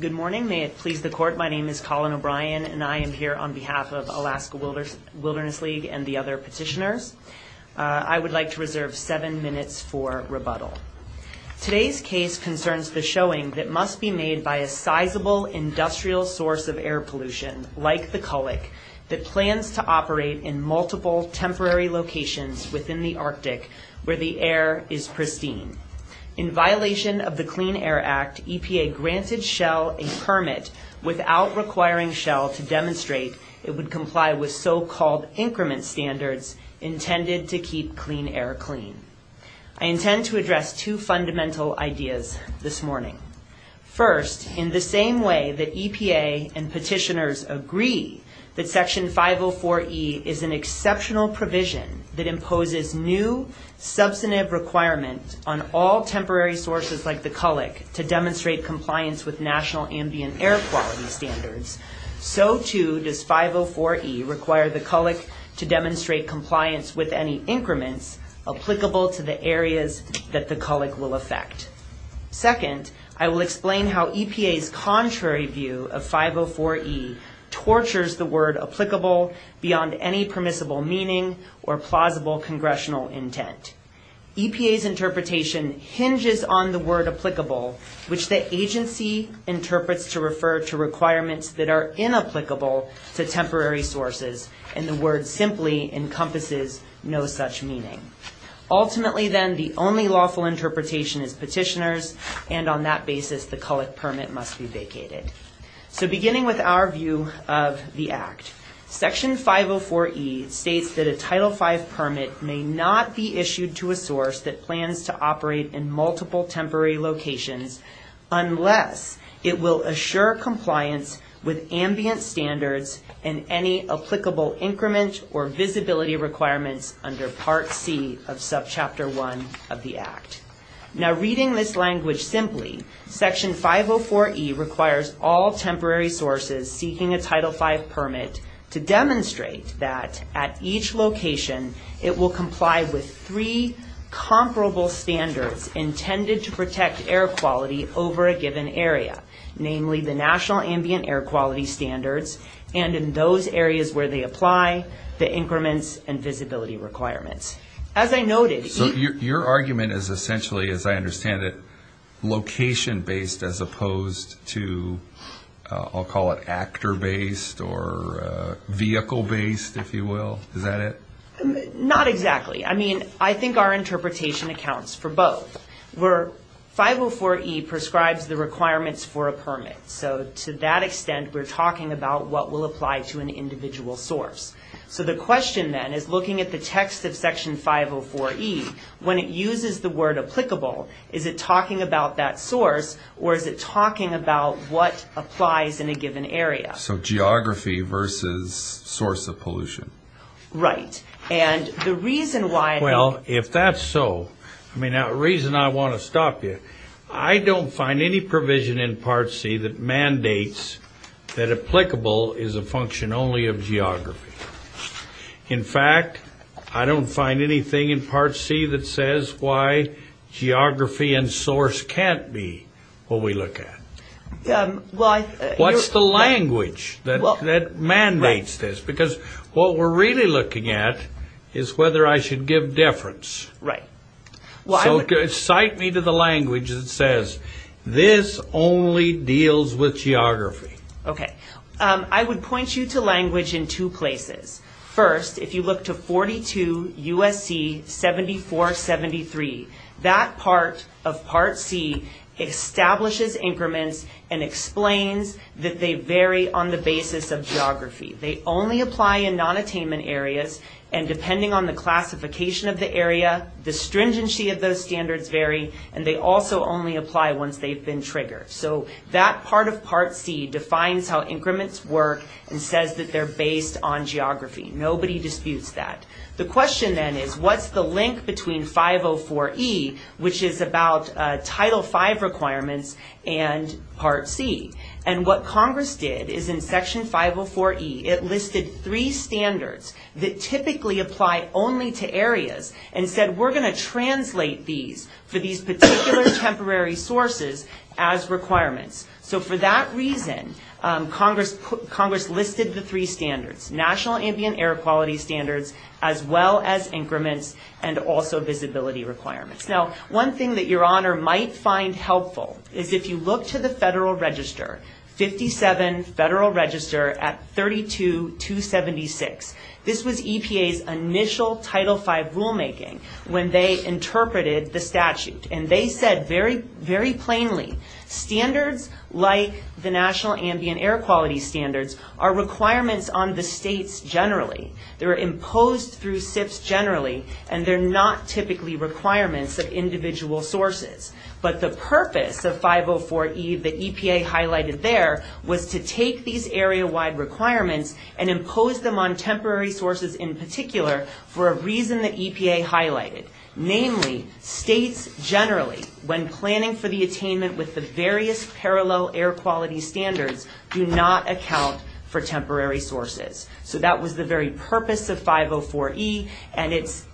Good morning may it please the court my name is Colin O'Brien and I am here on behalf of Alaska Wilderness League and the other petitioners. I would like to reserve seven minutes for rebuttal. Today's case concerns the showing that must be made by a sizable industrial source of air pollution like the cullic that plans to operate in multiple temporary locations within the Arctic where the air is pristine. In violation of the Clean Air Act, EPA granted Shell a permit without requiring Shell to demonstrate it would comply with so called increment standards intended to keep clean air clean. I intend to address two fundamental ideas this morning. First, in the same way that EPA and petitioners agree that section 504 E is an exceptional provision that imposes new substantive requirement on all temporary sources like the cullic to demonstrate compliance with national ambient air quality standards, so too does 504 E require the cullic to demonstrate compliance with any increments applicable to the areas that the cullic will affect. Second, I will explain how EPA's contrary view of 504 E tortures the word applicable beyond any congressional intent. EPA's interpretation hinges on the word applicable which the agency interprets to refer to requirements that are inapplicable to temporary sources and the word simply encompasses no such meaning. Ultimately then the only lawful interpretation is petitioners and on that basis the cullic permit must be vacated. So beginning with our view of the Act, section 504 E states that a title 5 permit may not be issued to a source that plans to operate in multiple temporary locations unless it will assure compliance with ambient standards and any applicable increment or visibility requirements under part C of subchapter 1 of the Act. Now reading this language simply, section 504 E requires all temporary sources seeking a title 5 permit to demonstrate that at each location it will comply with three comparable standards intended to protect air quality over a given area, namely the national ambient air quality standards and in those areas where they apply the increments and visibility requirements. As I noted... So your argument is essentially, as I understand it, location based as opposed to, I'll call it actor based or vehicle based if you will, is that it? Not exactly. I mean I think our interpretation accounts for both. Where 504 E prescribes the requirements for a permit, so to that extent we're talking about what will apply to an individual source. So the question then is looking at the text of section 504 E, when it uses the word applicable, is it talking about that what applies in a given area? So geography versus source of pollution. Right, and the reason why... Well if that's so, I mean the reason I want to stop you, I don't find any provision in part C that mandates that applicable is a function only of geography. In fact, I don't find anything in part C that says why geography and source can't be what we look at. What's the language that mandates this? Because what we're really looking at is whether I should give deference. Right. So cite me to the language that says this only deals with geography. Okay, I would point you to language in two places. First, if you look to 42 USC 7473, that part of part C establishes increments and explains that they vary on the basis of geography. They only apply in non-attainment areas and depending on the classification of the area, the stringency of those standards vary and they also only apply once they've been triggered. So that part of part C defines how increments work and says that they're based on geography. Nobody disputes that. The question then is what's the link between 504E, which is about Title V requirements and part C? And what Congress did is in Section 504E, it listed three standards that typically apply only to areas and said we're going to translate these for these particular temporary sources as requirements. So for that reason, Congress listed the three standards. National Ambient Air Quality Standards as well as increments and also visibility requirements. Now, one thing that your honor might find helpful is if you look to the Federal Register, 57 Federal Register at 32-276. This was EPA's initial Title V rulemaking when they interpreted the statute and they said very, very plainly, standards like the National Ambient Air Quality Standards are requirements on the states generally. They're imposed through SIFs generally and they're not typically requirements of individual sources. But the purpose of 504E that EPA highlighted there was to take these area-wide requirements and impose them on temporary sources in particular for a reason that EPA highlighted. Namely, states generally, when planning for the attainment with the various parallel air quality standards, do not account for temporary sources. So that was the very purpose of 504E and it's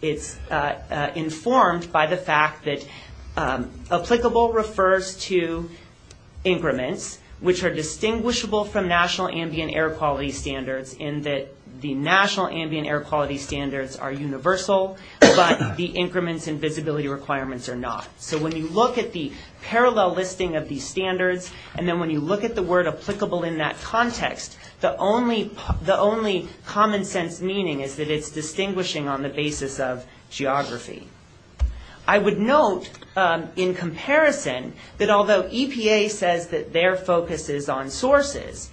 informed by the fact that applicable refers to increments which are distinguishable from National Ambient Air Quality Standards in that the National Ambient Air Quality Standards are universal, but the increments and visibility requirements are not. So when you look at the parallel listing of these standards and then when you look at the word applicable in that context, the only common sense meaning is that it's distinguishing on the basis of geography. I would note in comparison that although EPA says that their focus is on sources,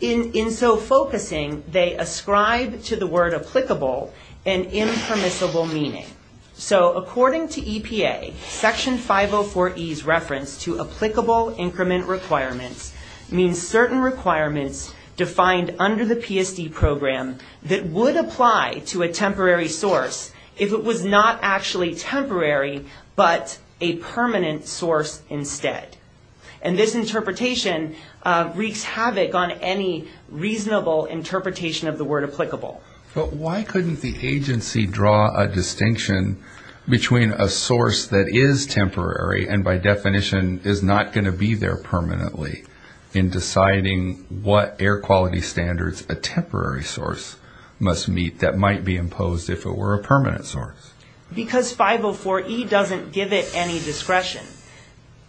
in so focusing they ascribe to the word applicable an impermissible meaning. So according to section 504E's reference to applicable increment requirements means certain requirements defined under the PSD program that would apply to a temporary source if it was not actually temporary but a permanent source instead. And this interpretation wreaks havoc on any reasonable interpretation of the word applicable. But why couldn't the agency draw a distinction between a source that is temporary and by definition is not going to be there permanently in deciding what air quality standards a temporary source must meet that might be imposed if it were a permanent source? Because 504E doesn't give it any discretion.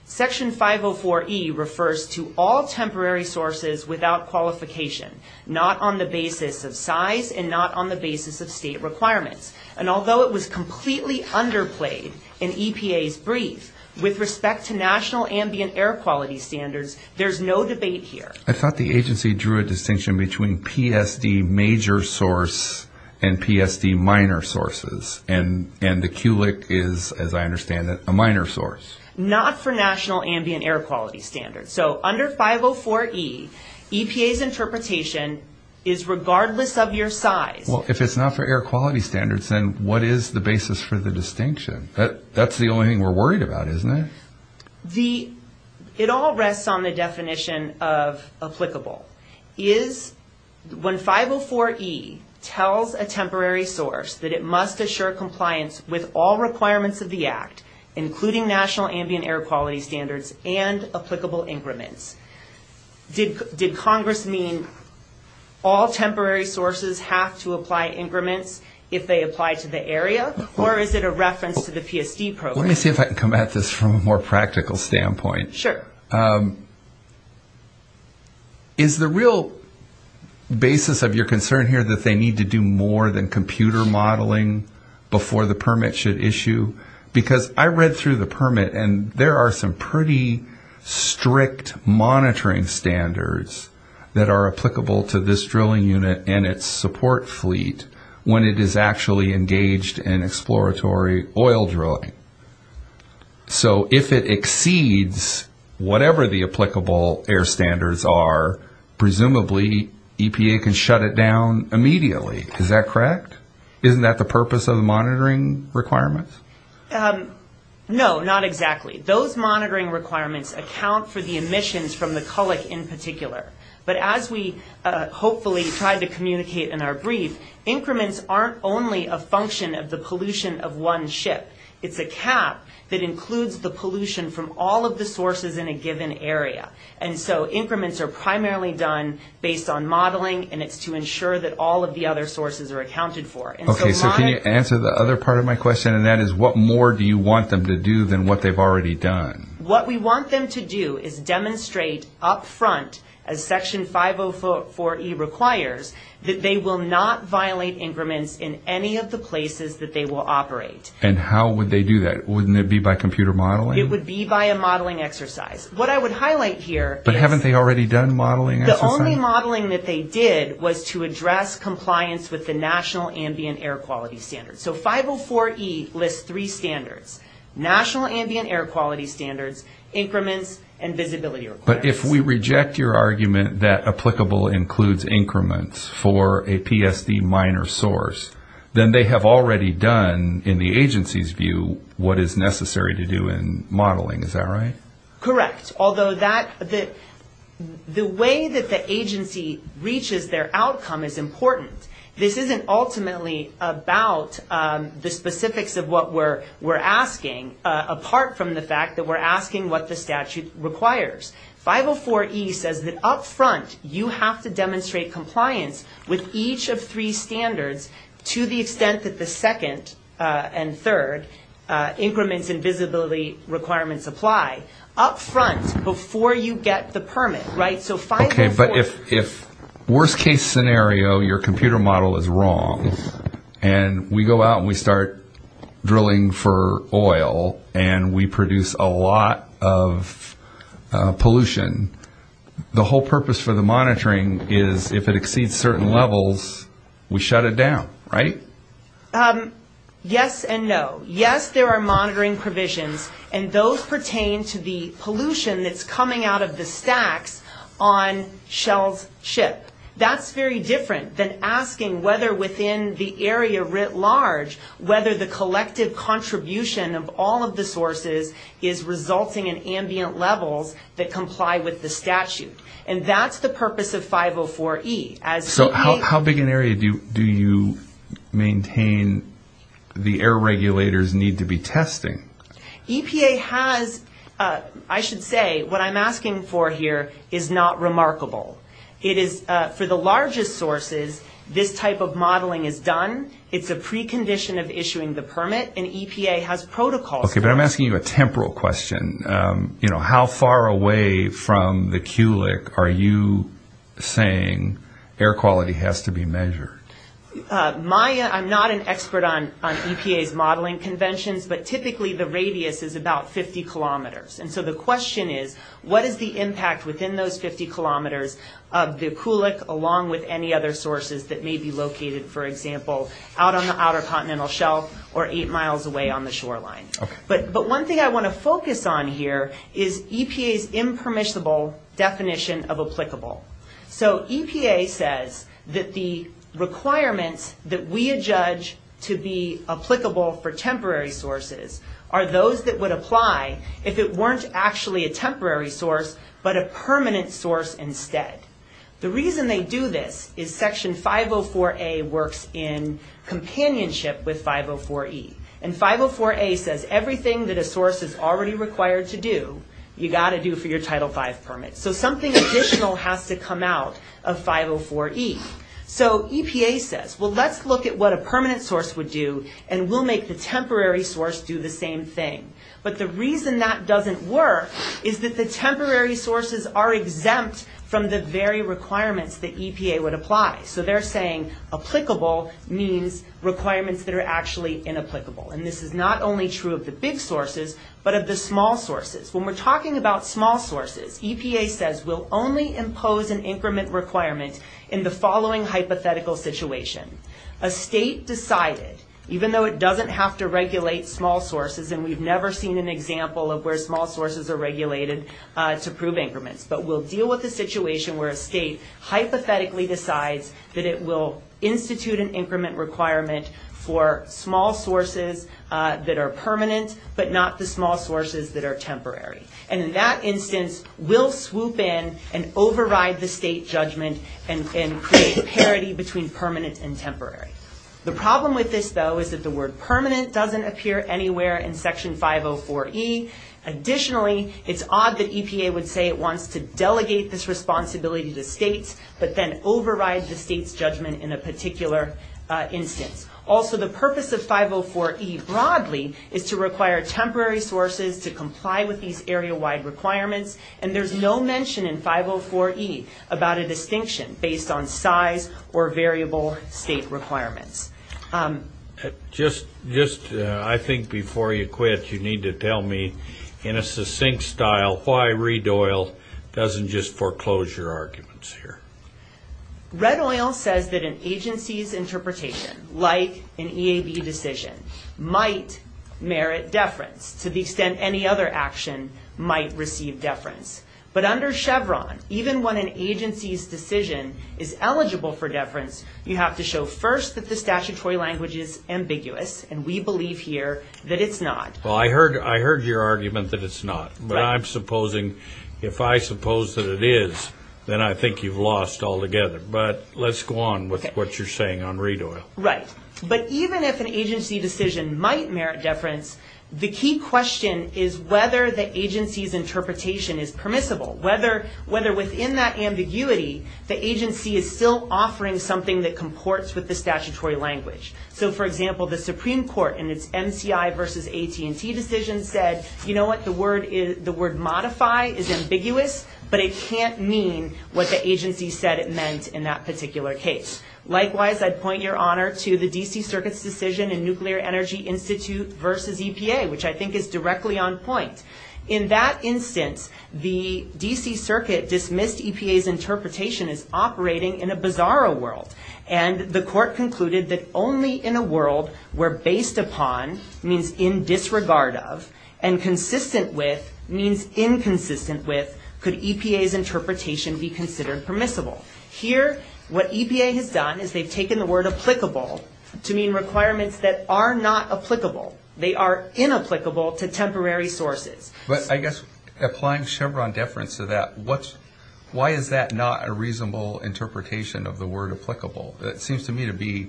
Section 504E refers to all temporary sources without qualification, not on the basis of size and not on the basis of state requirements. And although it was completely underplayed in EPA's brief with respect to National Ambient Air Quality Standards, there's no debate here. I thought the agency drew a distinction between PSD major source and PSD minor sources and the CULIC is, as I understand it, a minor source. Not for National Ambient Air Quality Standards. So under 504E, EPA's interpretation is regardless of your size. Well, if it's not for air quality standards, then what is the basis for the distinction? That's the only thing we're worried about, isn't it? It all rests on the definition of applicable. When 504E tells a temporary source that it must assure compliance with all requirements of the Act, including National Ambient Air Quality Standards and applicable increments, did Congress mean all temporary sources have to apply increments if they apply to the area? Or is it a reference to the PSD program? Let me see if I can come at this from a more practical standpoint. Sure. Is the real basis of your concern here that they need to do more than computer modeling before the permit should issue? Because I read through the permit and there are some pretty strict monitoring standards that are applicable to this drilling unit and its support fleet when it is actually engaged in exploratory oil drilling. So if it exceeds whatever the applicable air standards are, presumably EPA can shut it down immediately. Is that correct? Isn't that the purpose of the monitoring requirements? No, not exactly. Those monitoring requirements account for the emissions from the culloch in particular. But as we hopefully try to communicate in our brief, increments aren't only a function of the pollution of one ship. It's a cap that includes the pollution from all of the sources in a given area. And so increments are primarily done based on modeling and it's to ensure that all of the other sources are accounted for. Okay, so can you answer the other part of my question and that is what more do you want them to do than what they've already done? What we want them to do is demonstrate up front, as Section 504E requires, that they will not violate increments in any of the places that they will operate. And how would they do that? Wouldn't it be by computer modeling? It would be by a modeling exercise. What I would highlight here is... But haven't they already done modeling exercises? The only modeling that they did was to address compliance with the National Ambient Air Quality Standards. So 504E lists three standards. National Ambient Air Quality Standards, increments, and visibility requirements. But if we reject your argument that applicable includes increments for a PSD minor source, then they have already done, in the agency's view, what is necessary to do in modeling. Is that right? Correct. Although the way that the agency reaches their outcome is important. This isn't ultimately about the specifics of what we're asking, apart from the fact that we're asking what the statute requires. 504E says that up front, you have to demonstrate compliance with each of three standards to the extent that the second and third, increments and visibility requirements, apply up front before you get the permit. Right? So 504... Okay. But if worst case scenario, your computer model is wrong, and we go out and we start drilling for oil, and we produce a lot of pollution, the whole purpose for the monitoring is if it exceeds certain levels, we shut it down. Right? Yes and no. Yes, there are monitoring provisions, and those pertain to the pollution that's coming out of the stacks on Shell's ship. That's very different than asking whether within the area writ large, whether the collective contribution of all of the sources is resulting in ambient levels that comply with the statute. And that's the purpose of 504E. So how big an area do you maintain the air regulators need to be testing? EPA has, I should say, what I'm asking for here, is not remarkable. It is, for the largest sources, this type of modeling is done. It's a precondition of issuing the permit, and EPA has protocols... Okay, but I'm asking you a temporal question. How far away from the Kulik are you saying air quality has to be measured? I'm not an expert on EPA's modeling conventions, but typically the radius is about 50 kilometers. And so the question is, what is the impact within those 50 kilometers of the Kulik, along with any other sources that may be located, for example, out on the outer continental shelf or 8 miles away on the shoreline? But one thing I want to focus on here is EPA's impermissible definition of applicable. So EPA says that the requirements that we adjudge to be applicable for temporary sources are those that would apply if it weren't actually a temporary source, but a permanent source instead. The reason they do this is Section 504A works in companionship with 504E. And 504A says everything that a source is already required to do, you got to do for your Title V permit. So something additional has to come out of 504E. So EPA says, well, let's look at what a permanent source would do, and we'll make the temporary source do the same thing. But the reason that doesn't work is that the temporary sources are exempt from the very requirements that EPA would apply. So they're saying applicable means requirements that are actually inapplicable. And this is not only true of the big sources, but of the small sources. When we're talking about small sources, EPA says we'll only impose an increment requirement in the following hypothetical situation. A state decided, even though it doesn't have to regulate small sources, and we've never seen an example of where small sources are regulated to prove increments, but we'll deal with a state that decides that it will institute an increment requirement for small sources that are permanent, but not the small sources that are temporary. And in that instance, we'll swoop in and override the state judgment and create parity between permanent and temporary. The problem with this, though, is that the word permanent doesn't appear anywhere in Section 504E. Additionally, it's odd that EPA would say it wants to delegate this responsibility to states, but then override the state's judgment in a particular instance. Also, the purpose of 504E broadly is to require temporary sources to comply with these area-wide requirements, and there's no mention in 504E about a distinction based on size or variable state requirements. Just, I think, before you quit, you need to tell me, in a succinct style, why Reed Oil doesn't just foreclose your arguments here. Red Oil says that an agency's interpretation, like an EAB decision, might merit deference, to the extent any other action might receive deference. But under Chevron, even when an agency's decision is eligible for deference, you have to show first that the statutory language is ambiguous, and we believe here that it's not. Well, I heard your argument that it's not. But I'm supposing, if I suppose that it is, then I think you've lost altogether. But let's go on with what you're saying on Reed Oil. Right. But even if an agency decision might merit deference, the key question is whether the agency's interpretation is permissible, whether within that ambiguity the agency is still offering something that comports with the statutory language. So for example, the Supreme Court, in its MCI v. AT&T decision, said, you know what, the word modify is ambiguous, but it can't mean what the agency said it meant in that particular case. Likewise, I'd point your honor to the D.C. Circuit's decision in Nuclear Energy Institute v. EPA, which I think is directly on point. In that instance, the D.C. Circuit's interpretation is operating in a bizarro world. And the court concluded that only in a world where based upon means in disregard of, and consistent with means inconsistent with, could EPA's interpretation be considered permissible. Here what EPA has done is they've taken the word applicable to mean requirements that are not applicable. They are inapplicable to temporary sources. But I guess applying Chevron deference to that, why is that not a reasonable interpretation of the word applicable? It seems to me to be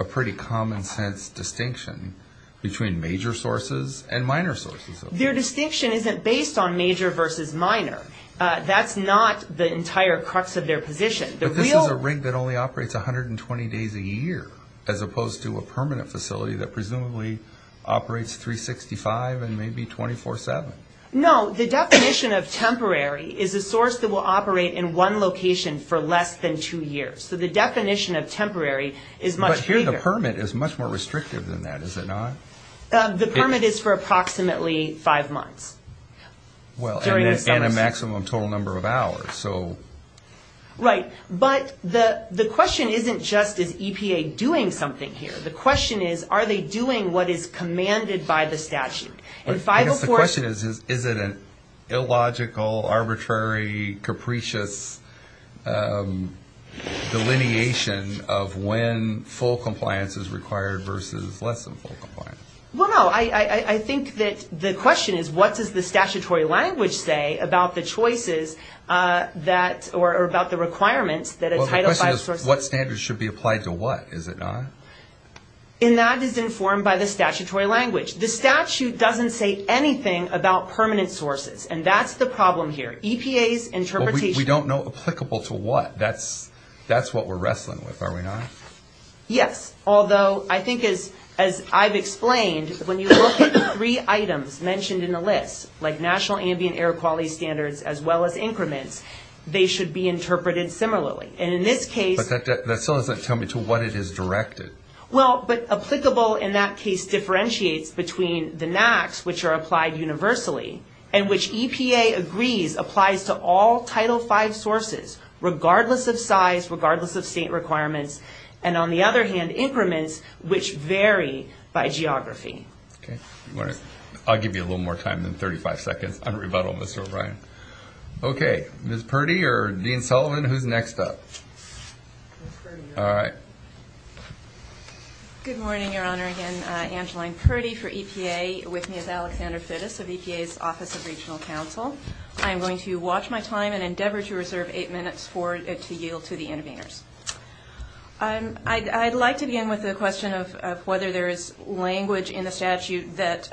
a pretty common sense distinction between major sources and minor sources. Their distinction isn't based on major versus minor. That's not the entire crux of their position. But this is a rig that only operates 120 days a year, as opposed to a permanent facility that presumably operates 365 and maybe 24-7. No, the definition of temporary is a source that will operate in one location for less than two years. So the definition of temporary is much bigger. But here the permit is much more restrictive than that, is it not? The permit is for approximately five months. Well, and a maximum total number of hours. Right. But the question isn't just is EPA doing something here. The question is are they doing what is commanded by the statute? I guess the question is, is it an illogical, arbitrary, capricious delineation of when full compliance is required versus less than full compliance? Well, no. I think that the question is what does the statutory language say about the choices that, or about the requirements that a Title V source... What standards should be applied to what, is it not? And that is informed by the statutory language. The statute doesn't say anything about permanent sources. And that's the problem here. EPA's interpretation... We don't know applicable to what. That's what we're wrestling with, are we not? Yes. Although I think as I've explained, when you look at the three items mentioned in the list, like national ambient air quality standards, as well as increments, they should be interpreted similarly. And in this case... But that still doesn't tell me to what it is directed. Well, but applicable in that case differentiates between the NAAQS, which are applied universally, and which EPA agrees applies to all Title V sources, regardless of size, regardless of state requirements. And on the other hand, increments, which vary by geography. Okay. I'll give you a little more time than 35 seconds on rebuttal, Mr. O'Brien. Okay. Ms. Purdy or Dean Sullivan, who's next up? Ms. Purdy. All right. Good morning, Your Honor. Again, Angeline Purdy for EPA. With me is Alexander Fittis of EPA's Office of Regional Counsel. I am going to watch my time and endeavor to reserve eight minutes to yield to the interveners. I'd like to begin with the question of whether there is language in the statute that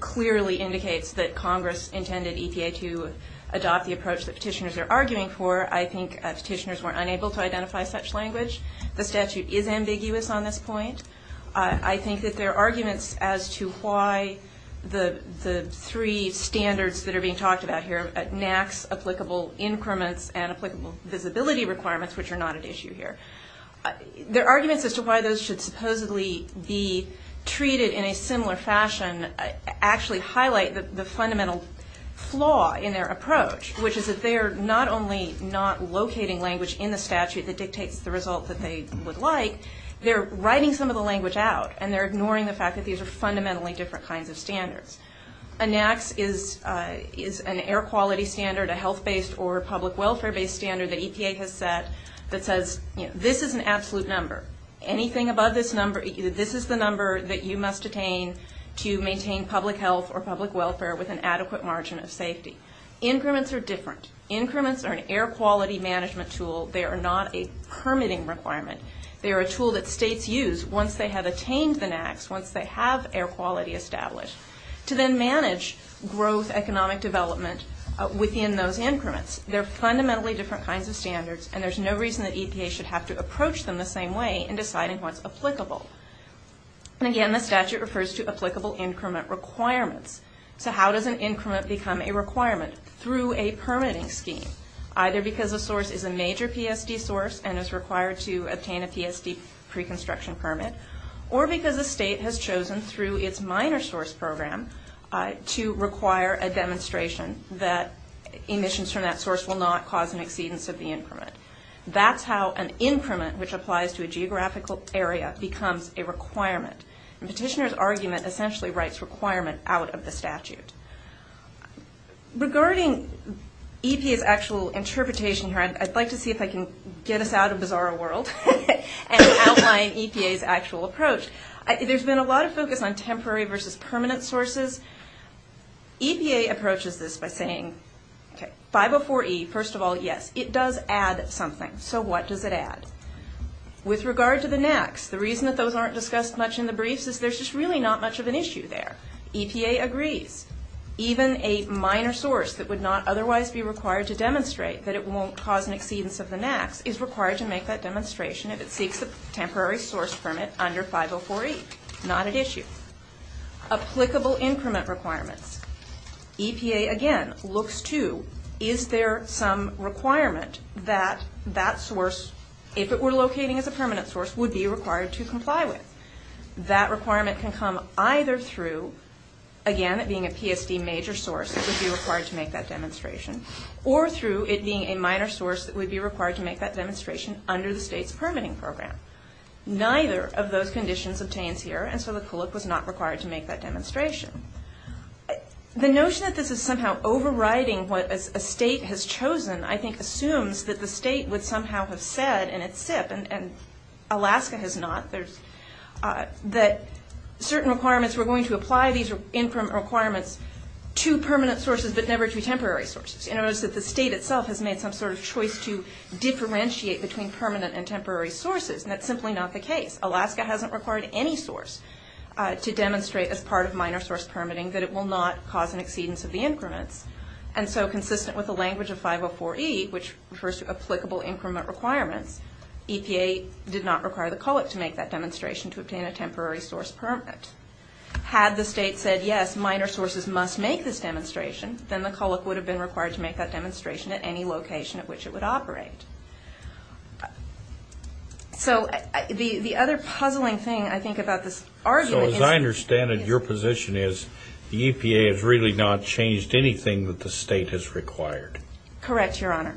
clearly indicates that Congress intended EPA to adopt the approach that petitioners are arguing for. I think petitioners were unable to identify such language. The statute is ambiguous on this point. I think that there are arguments as to why the three standards that are being talked about here, NAAQS, applicable increments, and applicable visibility requirements, which are not an issue here. Their arguments as to why those should supposedly be treated in a similar fashion actually highlight the fundamental flaw in their approach, which is that they are not only not locating language in the statute that dictates the result that they would like, they're writing some of the language out, and they're ignoring the fact that these are fundamentally different kinds of standards. A NAAQS is an air quality standard, a health-based or public welfare-based standard that EPA has set that says this is an absolute number. Anything above this number, this is the number that you must attain to maintain public health or public welfare with an adequate margin of safety. Increments are different. Increments are an air quality management tool. They are not a permitting requirement. They are a tool that states use once they have attained the NAAQS, once they have air quality established, to then manage growth economic development within those increments. They're fundamentally different kinds of standards, and there's no reason that EPA should have to approach them the same way in deciding what's applicable. And again, the statute refers to applicable increment requirements. So how does an increment become a requirement? Through a permitting scheme, either because a source is a major PSD source and is required to obtain a PSD pre-construction permit, or because a state has chosen through its minor source program to require a demonstration that emissions from that source will not cause an exceedance of the increment. That's how an increment, which applies to a geographical area, becomes a requirement. And petitioner's argument essentially writes requirement out of the statute. Regarding EPA's actual interpretation here, I'd like to see if I can get us out of bizarro world and outline EPA's actual approach. There's been a lot of focus on temporary versus permanent sources. EPA approaches this by saying, okay, 504E, first of all, yes, it does add something. So what does it add? With regard to the NAAQS, the reason that those aren't discussed much in the briefs is there's just really not much of an issue there. EPA agrees. Even a minor source that would not otherwise be required to demonstrate that it won't cause an exceedance of the NAAQS is required to make that demonstration Not an issue. Applicable increment requirements. EPA, again, looks to, is there some requirement that that source, if it were locating as a permanent source, would be required to comply with? That requirement can come either through, again, it being a PSD major source, it would be required to make that demonstration, or through it being a minor source that would be required to make that demonstration under the state's permitting program. Neither of those conditions obtains here, and so the CULIC was not required to make that demonstration. The notion that this is somehow overriding what a state has chosen, I think, assumes that the state would somehow have said in its SIP, and Alaska has not, that certain requirements were going to apply these increment requirements to permanent sources but never to temporary sources. You notice that the state itself has made some sort of choice to differentiate between permanent and temporary sources, and that's simply not the case. Alaska hasn't required any source to demonstrate as part of minor source permitting that it will not cause an exceedance of the increments, and so consistent with the language of 504E, which refers to applicable increment requirements, EPA did not require the CULIC to make that demonstration to obtain a temporary source permanent. Had the state said, yes, minor sources must make this demonstration, then the CULIC would have been required to make that demonstration at any location at which it would operate. So the other puzzling thing, I think, about this argument is So as I understand it, your position is the EPA has really not changed anything that the state has required. Correct, Your Honor.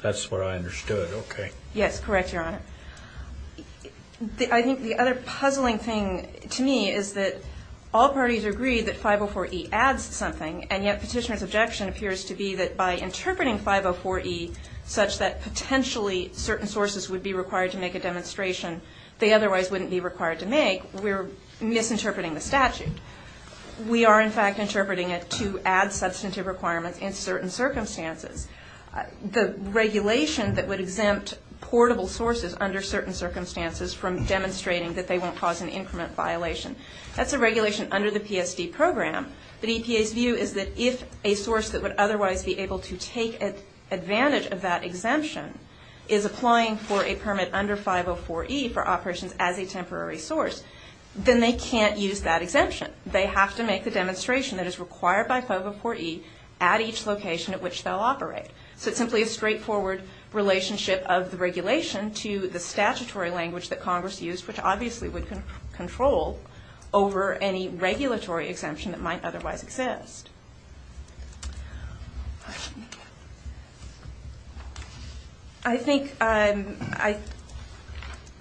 That's what I understood, okay. Yes, correct, Your Honor. I think the other puzzling thing to me is that all parties agree that 504E adds something, and yet petitioner's objection appears to be that by interpreting 504E such that potentially certain sources would be required to make a demonstration they otherwise wouldn't be required to make, we're misinterpreting the statute. We are, in fact, interpreting it to add substantive requirements in certain circumstances. The regulation that would exempt portable sources under certain circumstances from demonstrating that they won't cause an increment violation, that's a regulation under the PSD program. But EPA's view is that if a source that would otherwise be able to take advantage of that exemption is applying for a permit under 504E for operations as a temporary source, then they can't use that exemption. They have to make the demonstration that is required by 504E at each location at which they'll operate. So it's simply a straightforward relationship of the regulation to the statutory language that Congress used, which obviously would control over any regulatory exemption that might otherwise exist. I think I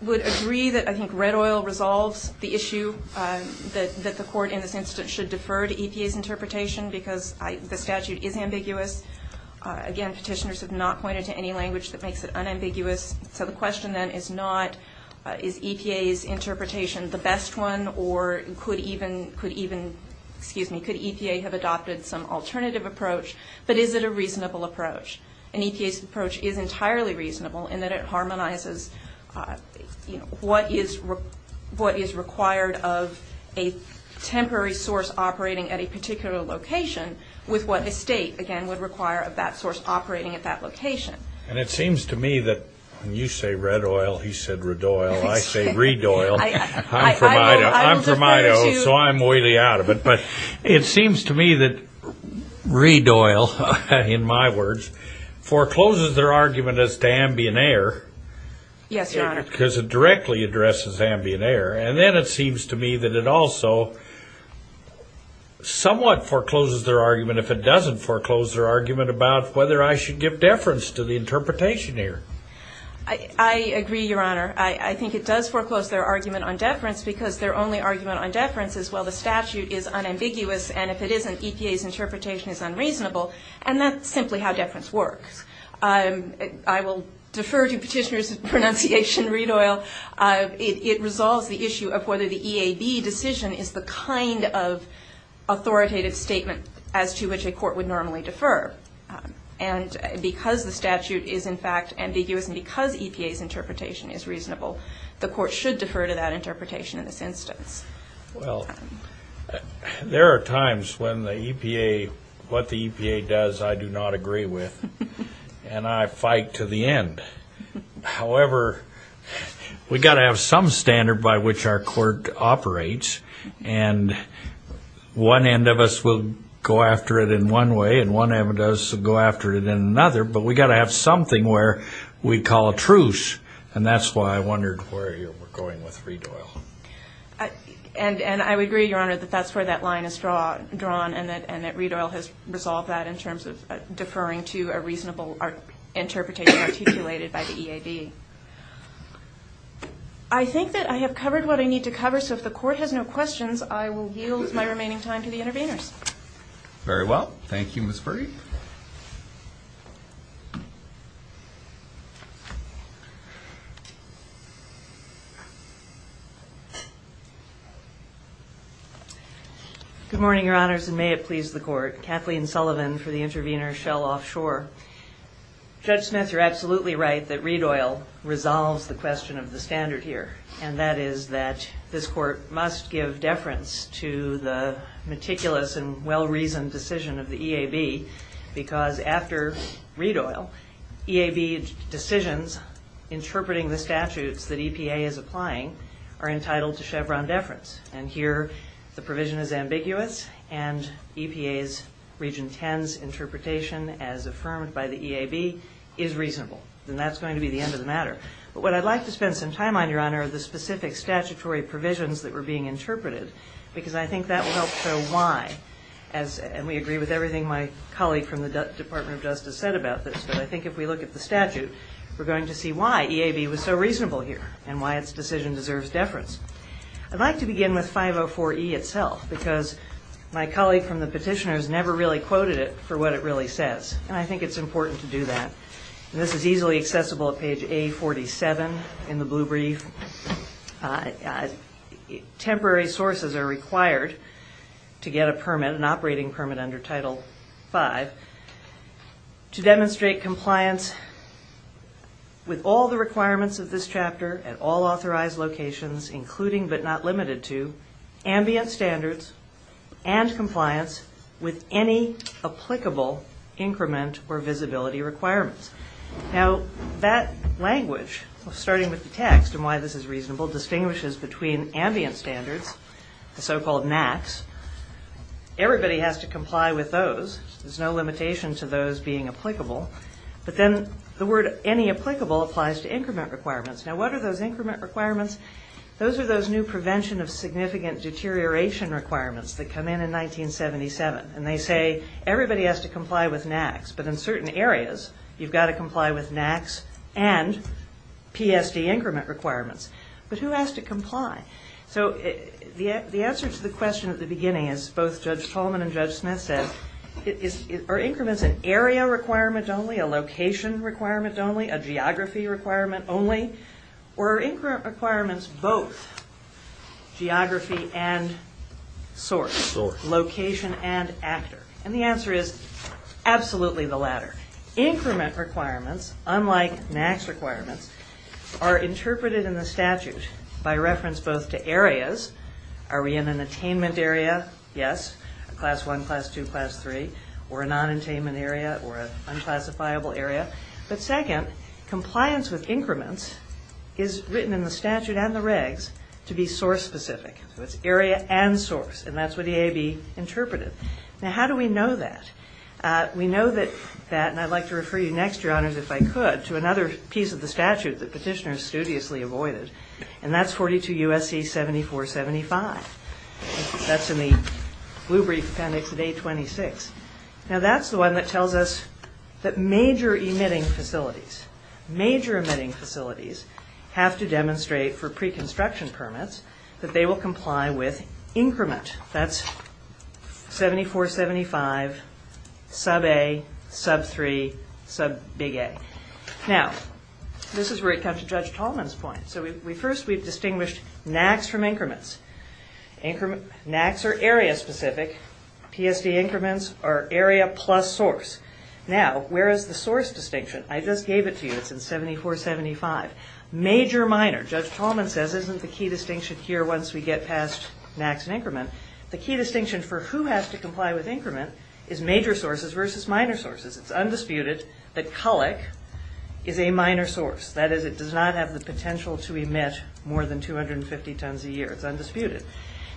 would agree that I think red oil resolves the issue that the court in this instance should defer to EPA's interpretation because the statute is ambiguous. Again, petitioners have not pointed to any language that makes it unambiguous. So the question then is not is EPA's interpretation the best one or could even, excuse me, could EPA have adopted some alternative approach, but is it a reasonable approach? And EPA's approach is entirely reasonable in that it harmonizes what is required of a temporary source operating at a particular location with what a state, again, would require of that source operating at that location. And it seems to me that when you say red oil, he said red oil. I say reed oil. I'm from Idaho, so I'm way out of it. But it seems to me that reed oil, in my words, forecloses their argument as to ambient air. Yes, Your Honor. Because it directly addresses ambient air. And then it seems to me that it also somewhat forecloses their argument, if it doesn't foreclose their argument, about whether I should give deference to the interpretation here. I agree, Your Honor. I think it does foreclose their argument on deference because their only argument on deference is, well, the statute is unambiguous, and if it isn't, EPA's interpretation is unreasonable. And that's simply how deference works. I will defer to petitioners' pronunciation of reed oil. It resolves the issue of whether the EAB decision is the kind of authoritative statement as to which a court would normally defer. And because the statute is, in fact, ambiguous and because EPA's interpretation is reasonable, the court should defer to that interpretation in this instance. Well, there are times when the EPA, what the EPA does, I do not agree with, and I fight to the end. However, we've got to have some standard by which our court operates, and one end of us will go after it in one way and one end of us will go after it in another, but we've got to have something where we call a truce. And that's why I wondered where you were going with reed oil. And I would agree, Your Honor, that that's where that line is drawn and that reed oil has resolved that in terms of deferring to a reasonable interpretation articulated by the EAB. I think that I have covered what I need to cover, so if the court has no questions, I will yield my remaining time to the interveners. Very well. Thank you, Ms. Burdy. Good morning, Your Honors, and may it please the court. Kathleen Sullivan for the intervener, Shell Offshore. Judge Smith, you're absolutely right that reed oil resolves the question of the standard here, and that is that this court must give deference to the meticulous and well-reasoned decision of the EAB because after reed oil, EAB decisions interpreting the statutes that EPA is applying are entitled to Chevron deference, and here the provision is ambiguous and EPA's Region 10's interpretation as affirmed by the EAB is reasonable, and that's going to be the end of the matter. But what I'd like to spend some time on, Your Honor, are the specific statutory provisions that were being interpreted because I think that will help show why, and we agree with everything my colleague from the Department of Justice said about this, but I think if we look at the statute, we're going to see why EAB was so reasonable here and why its decision deserves deference. I'd like to begin with 504E itself because my colleague from the petitioners never really quoted it for what it really says, and I think it's important to do that. This is easily accessible at page A47 in the blue brief. Temporary sources are required to get a permit, an operating permit under Title V, to demonstrate compliance with all the requirements of this chapter at all authorized locations, including but not limited to ambient standards and compliance with any applicable increment or visibility requirements. Now, that language, starting with the text and why this is reasonable, distinguishes between ambient standards, the so-called MACs. Everybody has to comply with those. There's no limitation to those being applicable. But then the word any applicable applies to increment requirements. Now, what are those increment requirements? Those are those new prevention of significant deterioration requirements that come in in 1977, and they say everybody has to comply with MACs, but in certain areas you've got to comply with MACs and PSD increment requirements. But who has to comply? So the answer to the question at the beginning, as both Judge Tolman and Judge Smith said, are increments an area requirement only, a location requirement only, a geography requirement only, or are increment requirements both geography and source, location and actor? And the answer is absolutely the latter. Increment requirements, unlike MACs requirements, are interpreted in the statute by reference both to areas. Are we in an attainment area? Yes, a Class I, Class II, Class III, or a non-attainment area, or an unclassifiable area. But second, compliance with increments is written in the statute and the regs to be source-specific. So it's area and source, and that's what EAB interpreted. Now, how do we know that? We know that that, and I'd like to refer you next, Your Honors, if I could, to another piece of the statute that petitioners studiously avoided, and that's 42 U.S.C. 7475. That's in the Blue Brief Appendix of A26. Now, that's the one that tells us that major emitting facilities, major emitting facilities, have to demonstrate for pre-construction permits that they will comply with increment. That's 7475, Sub A, Sub 3, Sub Big A. Now, this is where it comes to Judge Tolman's point. First, we've distinguished NACs from increments. NACs are area-specific. PSD increments are area plus source. Now, where is the source distinction? I just gave it to you. It's in 7475. Major, minor. Judge Tolman says, isn't the key distinction here once we get past NACs and increment? The key distinction for who has to comply with increment is major sources versus minor sources. It's undisputed that CULIC is a minor source. That is, it does not have the potential to emit more than 250 tons a year. It's undisputed.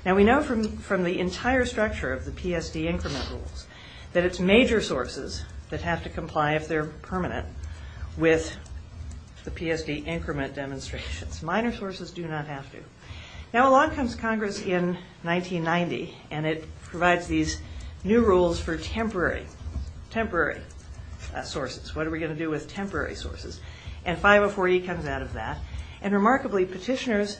Now, we know from the entire structure of the PSD increment rules that it's major sources that have to comply, if they're permanent, with the PSD increment demonstrations. Minor sources do not have to. Now, along comes Congress in 1990, and it provides these new rules for temporary sources. What are we going to do with temporary sources? And 504E comes out of that. And remarkably, petitioners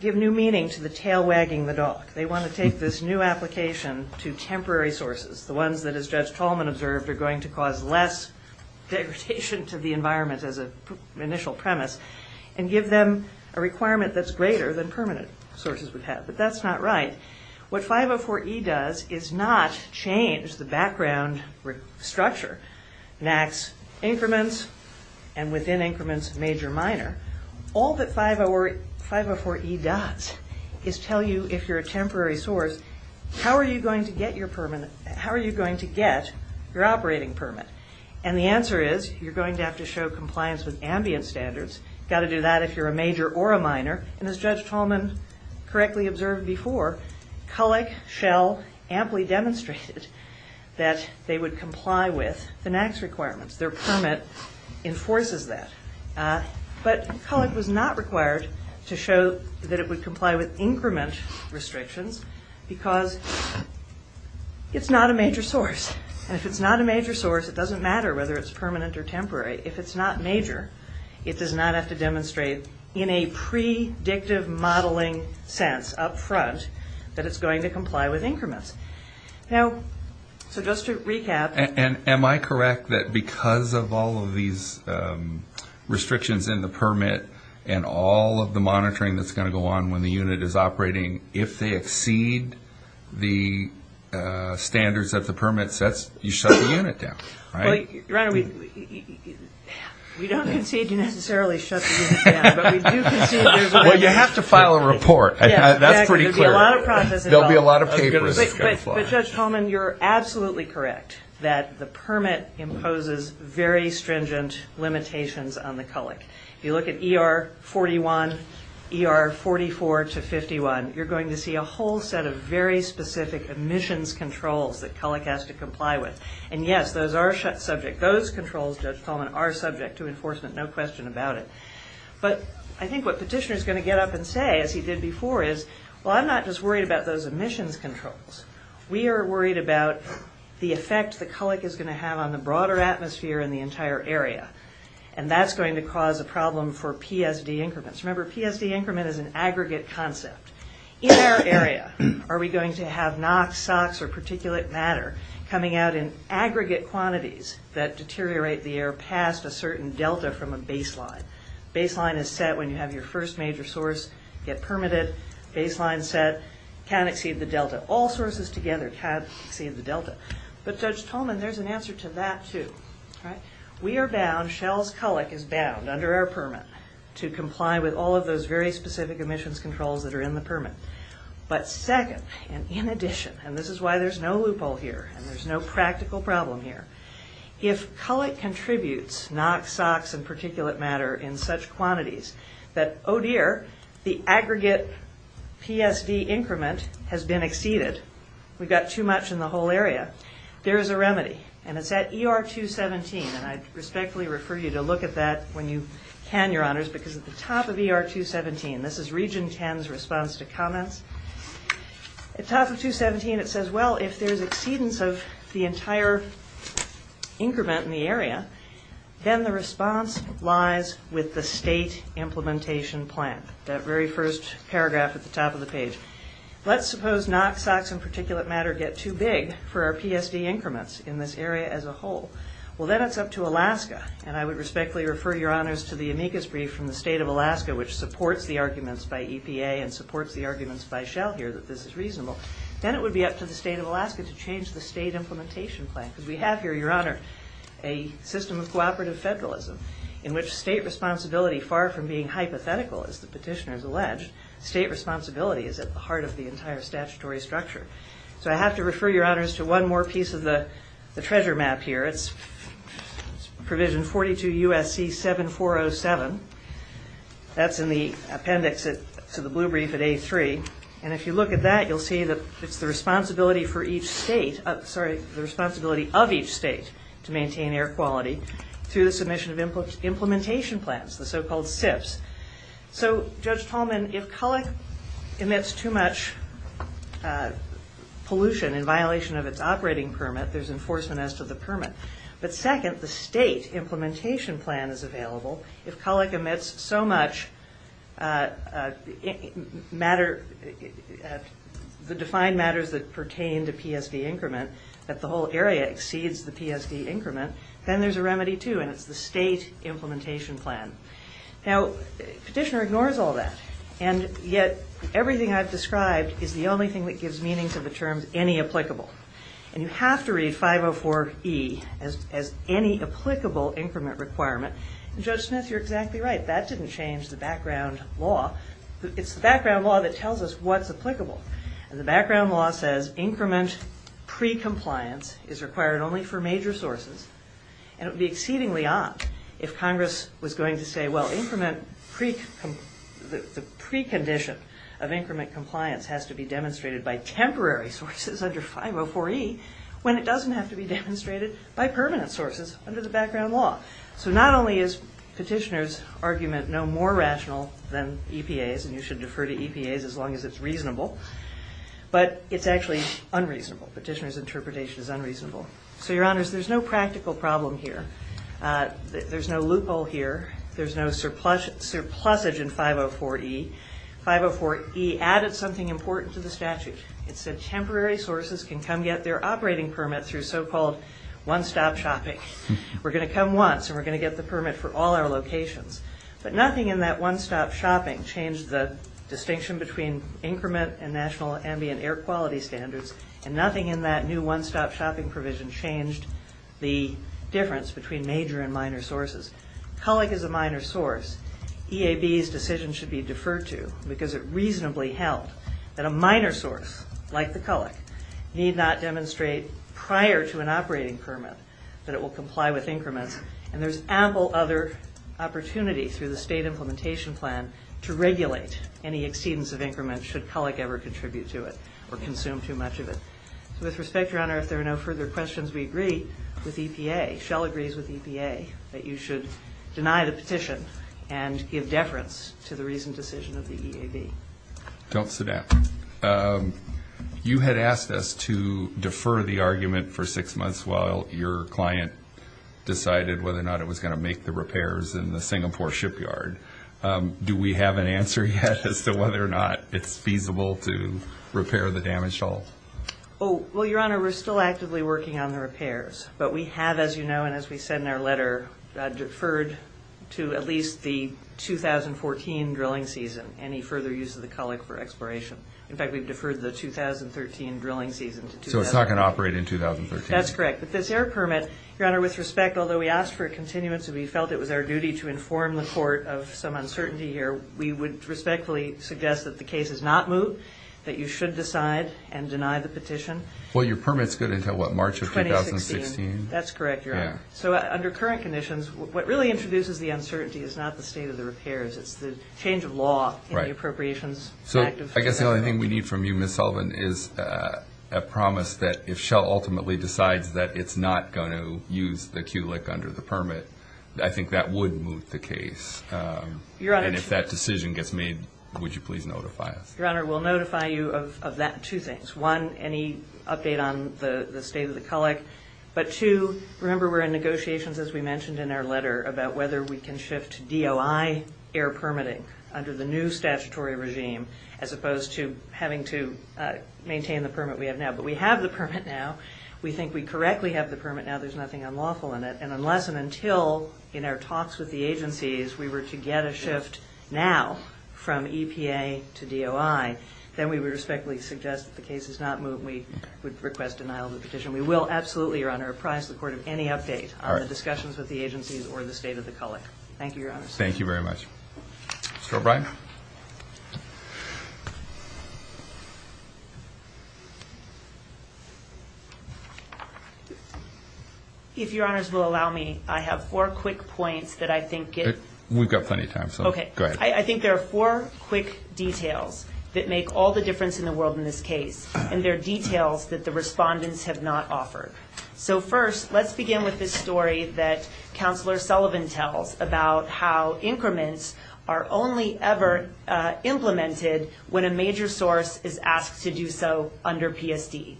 give new meaning to the tail wagging the dog. They want to take this new application to temporary sources, the ones that, as Judge Tolman observed, are going to cause less degradation to the environment as an initial premise, and give them a requirement that's greater than permanent sources would have. But that's not right. What 504E does is not change the background structure. It enacts increments, and within increments, major-minor. All that 504E does is tell you, if you're a temporary source, how are you going to get your operating permit? And the answer is, you're going to have to show compliance with ambient standards. You've got to do that if you're a major or a minor. And as Judge Tolman correctly observed before, CULIC shall amply demonstrate that they would comply with FINAX requirements. Their permit enforces that. But CULIC was not required to show that it would comply with increment restrictions because it's not a major source. And if it's not a major source, it doesn't matter whether it's permanent or temporary. If it's not major, it does not have to demonstrate in a predictive modeling sense up front that it's going to comply with increments. Now, so just to recap. And am I correct that because of all of these restrictions in the permit and all of the monitoring that's going to go on when the unit is operating, if they exceed the standards that the permit sets, you shut the unit down? Well, Ryan, we don't concede you necessarily shut the unit down. But we do concede there's a lot of process involved. Well, you have to file a report. That's pretty clear. There'll be a lot of papers. But Judge Tolman, you're absolutely correct that the permit imposes very stringent limitations on the CULIC. If you look at ER 41, ER 44 to 51, you're going to see a whole set of very specific emissions controls that CULIC has to comply with. And, yes, those are subject. Those controls, Judge Tolman, are subject to enforcement, no question about it. But I think what Petitioner's going to get up and say, as he did before, is, well, I'm not just worried about those emissions controls. We are worried about the effect the CULIC is going to have on the broader atmosphere and the entire area. And that's going to cause a problem for PSD increments. Remember, PSD increment is an aggregate concept. In our area, are we going to have NOx, SOx, or particulate matter coming out in aggregate quantities that deteriorate the air past a certain delta from a baseline? Baseline is set when you have your first major source get permitted. Baseline set can't exceed the delta. All sources together can't exceed the delta. But, Judge Tolman, there's an answer to that, too. We are bound, Shell's CULIC is bound, under our permit, to comply with all of those very specific emissions controls that are in the permit. But second, and in addition, and this is why there's no loophole here, and there's no practical problem here, if CULIC contributes NOx, SOx, and particulate matter in such quantities that, oh dear, the aggregate PSD increment has been exceeded, we've got too much in the whole area, there is a remedy, and it's at ER 217, and I respectfully refer you to look at that when you can, Your Honors, because at the top of ER 217, this is Region 10's response to comments, at the top of 217 it says, well, if there's exceedance of the entire increment in the area, then the response lies with the state implementation plan, that very first paragraph at the top of the page. Let's suppose NOx, SOx, and particulate matter get too big for our PSD increments in this area as a whole. Well, then it's up to Alaska, and I would respectfully refer, Your Honors, to the amicus brief from the state of Alaska, which supports the arguments by EPA and supports the arguments by Shell here that this is reasonable. Then it would be up to the state of Alaska to change the state implementation plan, because we have here, Your Honor, a system of cooperative federalism in which state responsibility, far from being hypothetical, as the petitioners allege, state responsibility is at the heart of the entire statutory structure. So I have to refer, Your Honors, to one more piece of the treasure map here. It's provision 42 U.S.C. 7407. That's in the appendix to the blue brief at A3. And if you look at that, you'll see that it's the responsibility for each state, sorry, the responsibility of each state to maintain air quality through the submission of implementation plans, the so-called SIPs. So, Judge Tolman, if CULIC emits too much pollution in violation of its operating permit, there's enforcement as to the permit. But second, the state implementation plan is available. If CULIC emits so much matter, the defined matters that pertain to PSD increment, that the whole area exceeds the PSD increment, then there's a remedy too, and it's the state implementation plan. Now, petitioner ignores all that. And yet everything I've described is the only thing that gives meaning to the terms any applicable. And you have to read 504E as any applicable increment requirement. And, Judge Smith, you're exactly right. That didn't change the background law. It's the background law that tells us what's applicable. And the background law says increment pre-compliance is required only for major sources, and it would be exceedingly odd if Congress was going to say, well, the precondition of increment compliance has to be demonstrated by temporary sources under 504E when it doesn't have to be demonstrated by permanent sources under the background law. So not only is petitioner's argument no more rational than EPA's, and you should defer to EPA's as long as it's reasonable, Petitioner's interpretation is unreasonable. So, Your Honors, there's no practical problem here. There's no loophole here. There's no surplusage in 504E. 504E added something important to the statute. It said temporary sources can come get their operating permit through so-called one-stop shopping. We're going to come once, and we're going to get the permit for all our locations. But nothing in that one-stop shopping changed the distinction between increment and national ambient air quality standards, and nothing in that new one-stop shopping provision changed the difference between major and minor sources. CULIC is a minor source. EAB's decision should be deferred to because it reasonably held that a minor source, like the CULIC, need not demonstrate prior to an operating permit that it will comply with increments, and there's ample other opportunity through the state implementation plan to regulate any exceedance of increments should CULIC ever contribute to it or consume too much of it. So, with respect, Your Honor, if there are no further questions, we agree with EPA. Shell agrees with EPA that you should deny the petition and give deference to the reasoned decision of the EAB. Don't sit down. You had asked us to defer the argument for six months while your client decided whether or not it was going to make the repairs in the Singapore shipyard. Do we have an answer yet as to whether or not it's feasible to repair the damaged hull? Well, Your Honor, we're still actively working on the repairs, but we have, as you know, and as we said in our letter, deferred to at least the 2014 drilling season, any further use of the CULIC for exploration. In fact, we've deferred the 2013 drilling season to 2013. So it's not going to operate in 2013? That's correct. But this air permit, Your Honor, with respect, although we asked for a continuity, we felt it was our duty to inform the court of some uncertainty here, we would respectfully suggest that the case is not moved, that you should decide and deny the petition. Well, your permit's good until what, March of 2016? That's correct, Your Honor. So under current conditions, what really introduces the uncertainty is not the state of the repairs. It's the change of law in the appropriations. So I guess the only thing we need from you, Ms. Sullivan, is a promise that if Shell ultimately decides that it's not going to use the CULIC under the permit, I think that would move the case. And if that decision gets made, would you please notify us? Your Honor, we'll notify you of that, two things. One, any update on the state of the CULIC. But two, remember we're in negotiations, as we mentioned in our letter, about whether we can shift to DOI air permitting under the new statutory regime, as opposed to having to maintain the permit we have now. But we have the permit now. We think we correctly have the permit now. There's nothing unlawful in it. And unless and until, in our talks with the agencies, we were to get a shift now from EPA to DOI, then we would respectfully suggest that the case is not moved, and we would request denial of the petition. We will absolutely, Your Honor, apprise the court of any update on the discussions with the agencies or the state of the CULIC. Thank you, Your Honor. Thank you very much. Mr. O'Brien. If Your Honors will allow me, I have four quick points that I think get. We've got plenty of time. Okay. Go ahead. I think there are four quick details that make all the difference in the world in this case, and they're details that the respondents have not offered. So first, let's begin with this story that Counselor Sullivan tells about how increments are only ever implemented when a major source is asked to do so under PSD.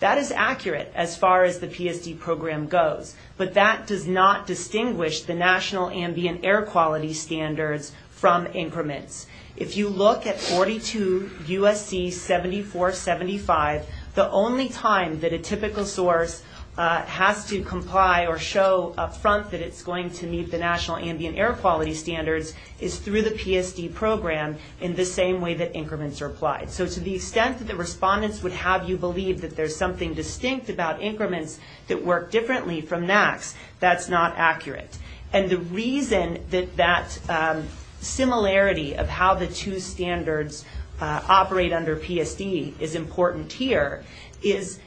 That is accurate as far as the PSD program goes, but that does not distinguish the National Ambient Air Quality Standards from increments. If you look at 42 U.S.C. 7475, the only time that a typical source has to comply or show up front that it's going to meet the National Ambient Air Quality Standards is through the PSD program in the same way that increments are applied. So to the extent that the respondents would have you believe that there's something distinct about increments that work differently from NACs, that's not accurate. And the reason that that similarity of how the two standards operate under PSD is important here is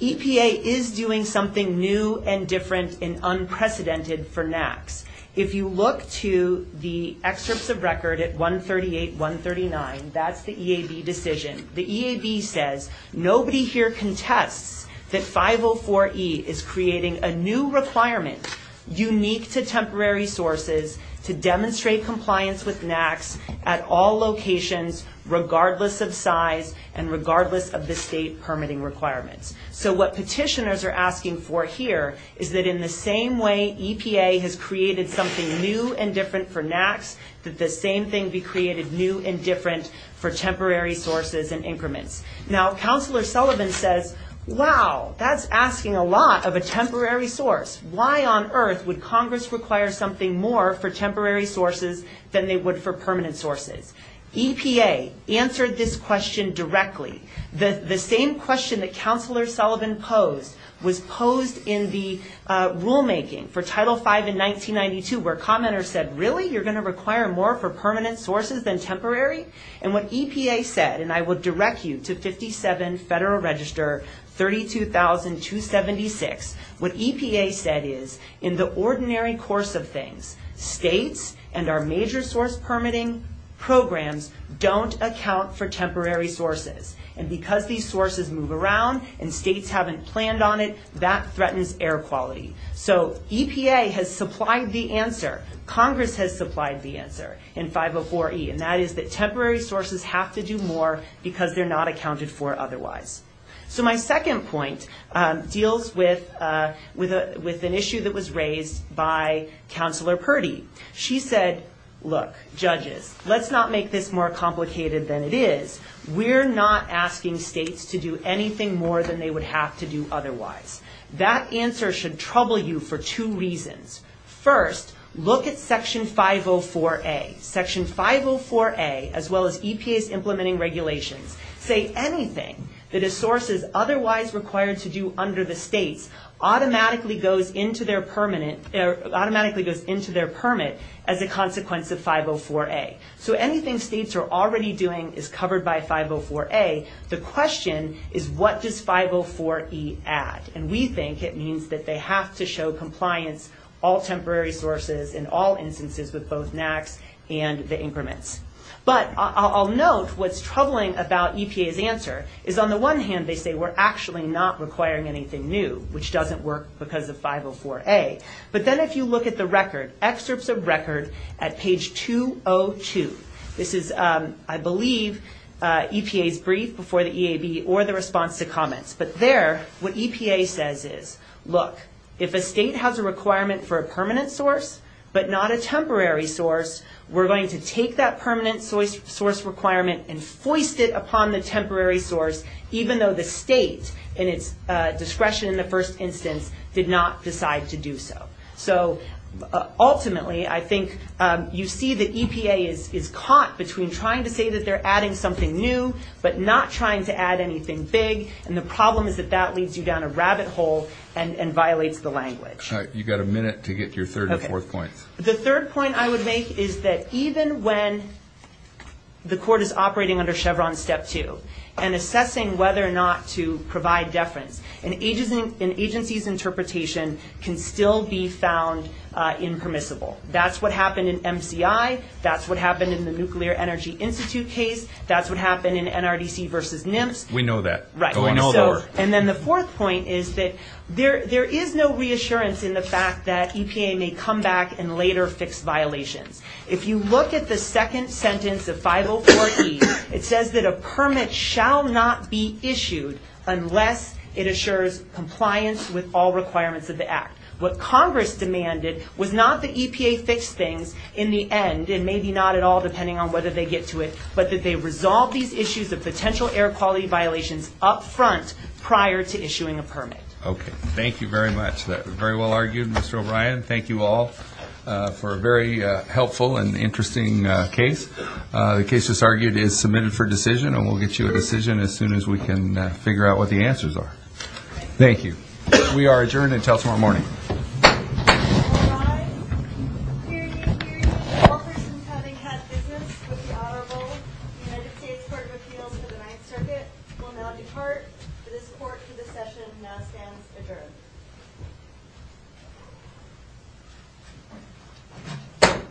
EPA is doing something new and different and unprecedented for NACs. If you look to the excerpts of record at 138, 139, that's the EAB decision. The EAB says, nobody here contests that 504E is creating a new requirement unique to temporary sources to demonstrate compliance with NACs at all locations regardless of size and regardless of the state permitting requirements. So what petitioners are asking for here is that in the same way EPA has created something new and different for NACs, that the same thing be created new and different for temporary sources and increments. Now, Counselor Sullivan says, wow, that's asking a lot of a temporary source. Why on earth would Congress require something more for temporary sources than they would for permanent sources? EPA answered this question directly. The same question that Counselor Sullivan posed was posed in the rulemaking for Title V in 1992 where commenters said, really, you're going to require more for permanent sources than temporary? And what EPA said, and I will direct you to 57 Federal Register 32276, what EPA said is, in the ordinary course of things, states and our major source permitting programs don't account for temporary sources. And because these sources move around and states haven't planned on it, that threatens air quality. So EPA has supplied the answer. Congress has supplied the answer in 504E. And that is that temporary sources have to do more because they're not accounted for otherwise. So my second point deals with an issue that was raised by Counselor Purdy. She said, look, judges, let's not make this more complicated than it is. We're not asking states to do anything more than they would have to do otherwise. That answer should trouble you for two reasons. First, look at Section 504A. Section 504A, as well as EPA's implementing regulations, say anything that a source is otherwise required to do under the states automatically goes into their permit as a consequence of 504A. So anything states are already doing is covered by 504A. The question is, what does 504E add? And we think it means that they have to show compliance, all temporary sources in all instances with both NAAQS and the increments. But I'll note what's troubling about EPA's answer is, on the one hand, they say we're actually not requiring anything new, which doesn't work because of 504A. But then if you look at the record, excerpts of record at page 202, this is, I believe, EPA's brief before the EAB or the response to comments. But there, what EPA says is, look, if a state has a requirement for a permanent source but not a temporary source, we're going to take that permanent source requirement and foist it upon the temporary source, even though the state, in its discretion in the first instance, did not decide to do so. So ultimately, I think you see that EPA is caught between trying to say that they're adding something new but not trying to add anything big. And the problem is that that leads you down a rabbit hole and violates the language. All right. You've got a minute to get your third and fourth points. The third point I would make is that even when the court is operating under Chevron Step 2 and assessing whether or not to provide deference, an agency's interpretation can still be found impermissible. That's what happened in MCI. That's what happened in the Nuclear Energy Institute case. That's what happened in NRDC versus NIMS. We know that. Right. And then the fourth point is that there is no reassurance in the fact that EPA may come back and later fix violations. If you look at the second sentence of 504E, it says that a permit shall not be issued unless it assures compliance with all requirements of the Act. What Congress demanded was not that EPA fix things in the end, and maybe not at all depending on whether they get to it, but that they resolve these issues of potential air quality violations up front prior to issuing a permit. Okay. Very well argued, Mr. O'Brien. Thank you all for a very helpful and interesting case. The case, as argued, is submitted for decision, and we'll get you a decision as soon as we can figure out what the answers are. Thank you. We are adjourned until tomorrow morning. All rise. All persons having had business with the Honorable United States Court of Appeals for the Ninth Circuit will now depart. This court for this session now stands adjourned.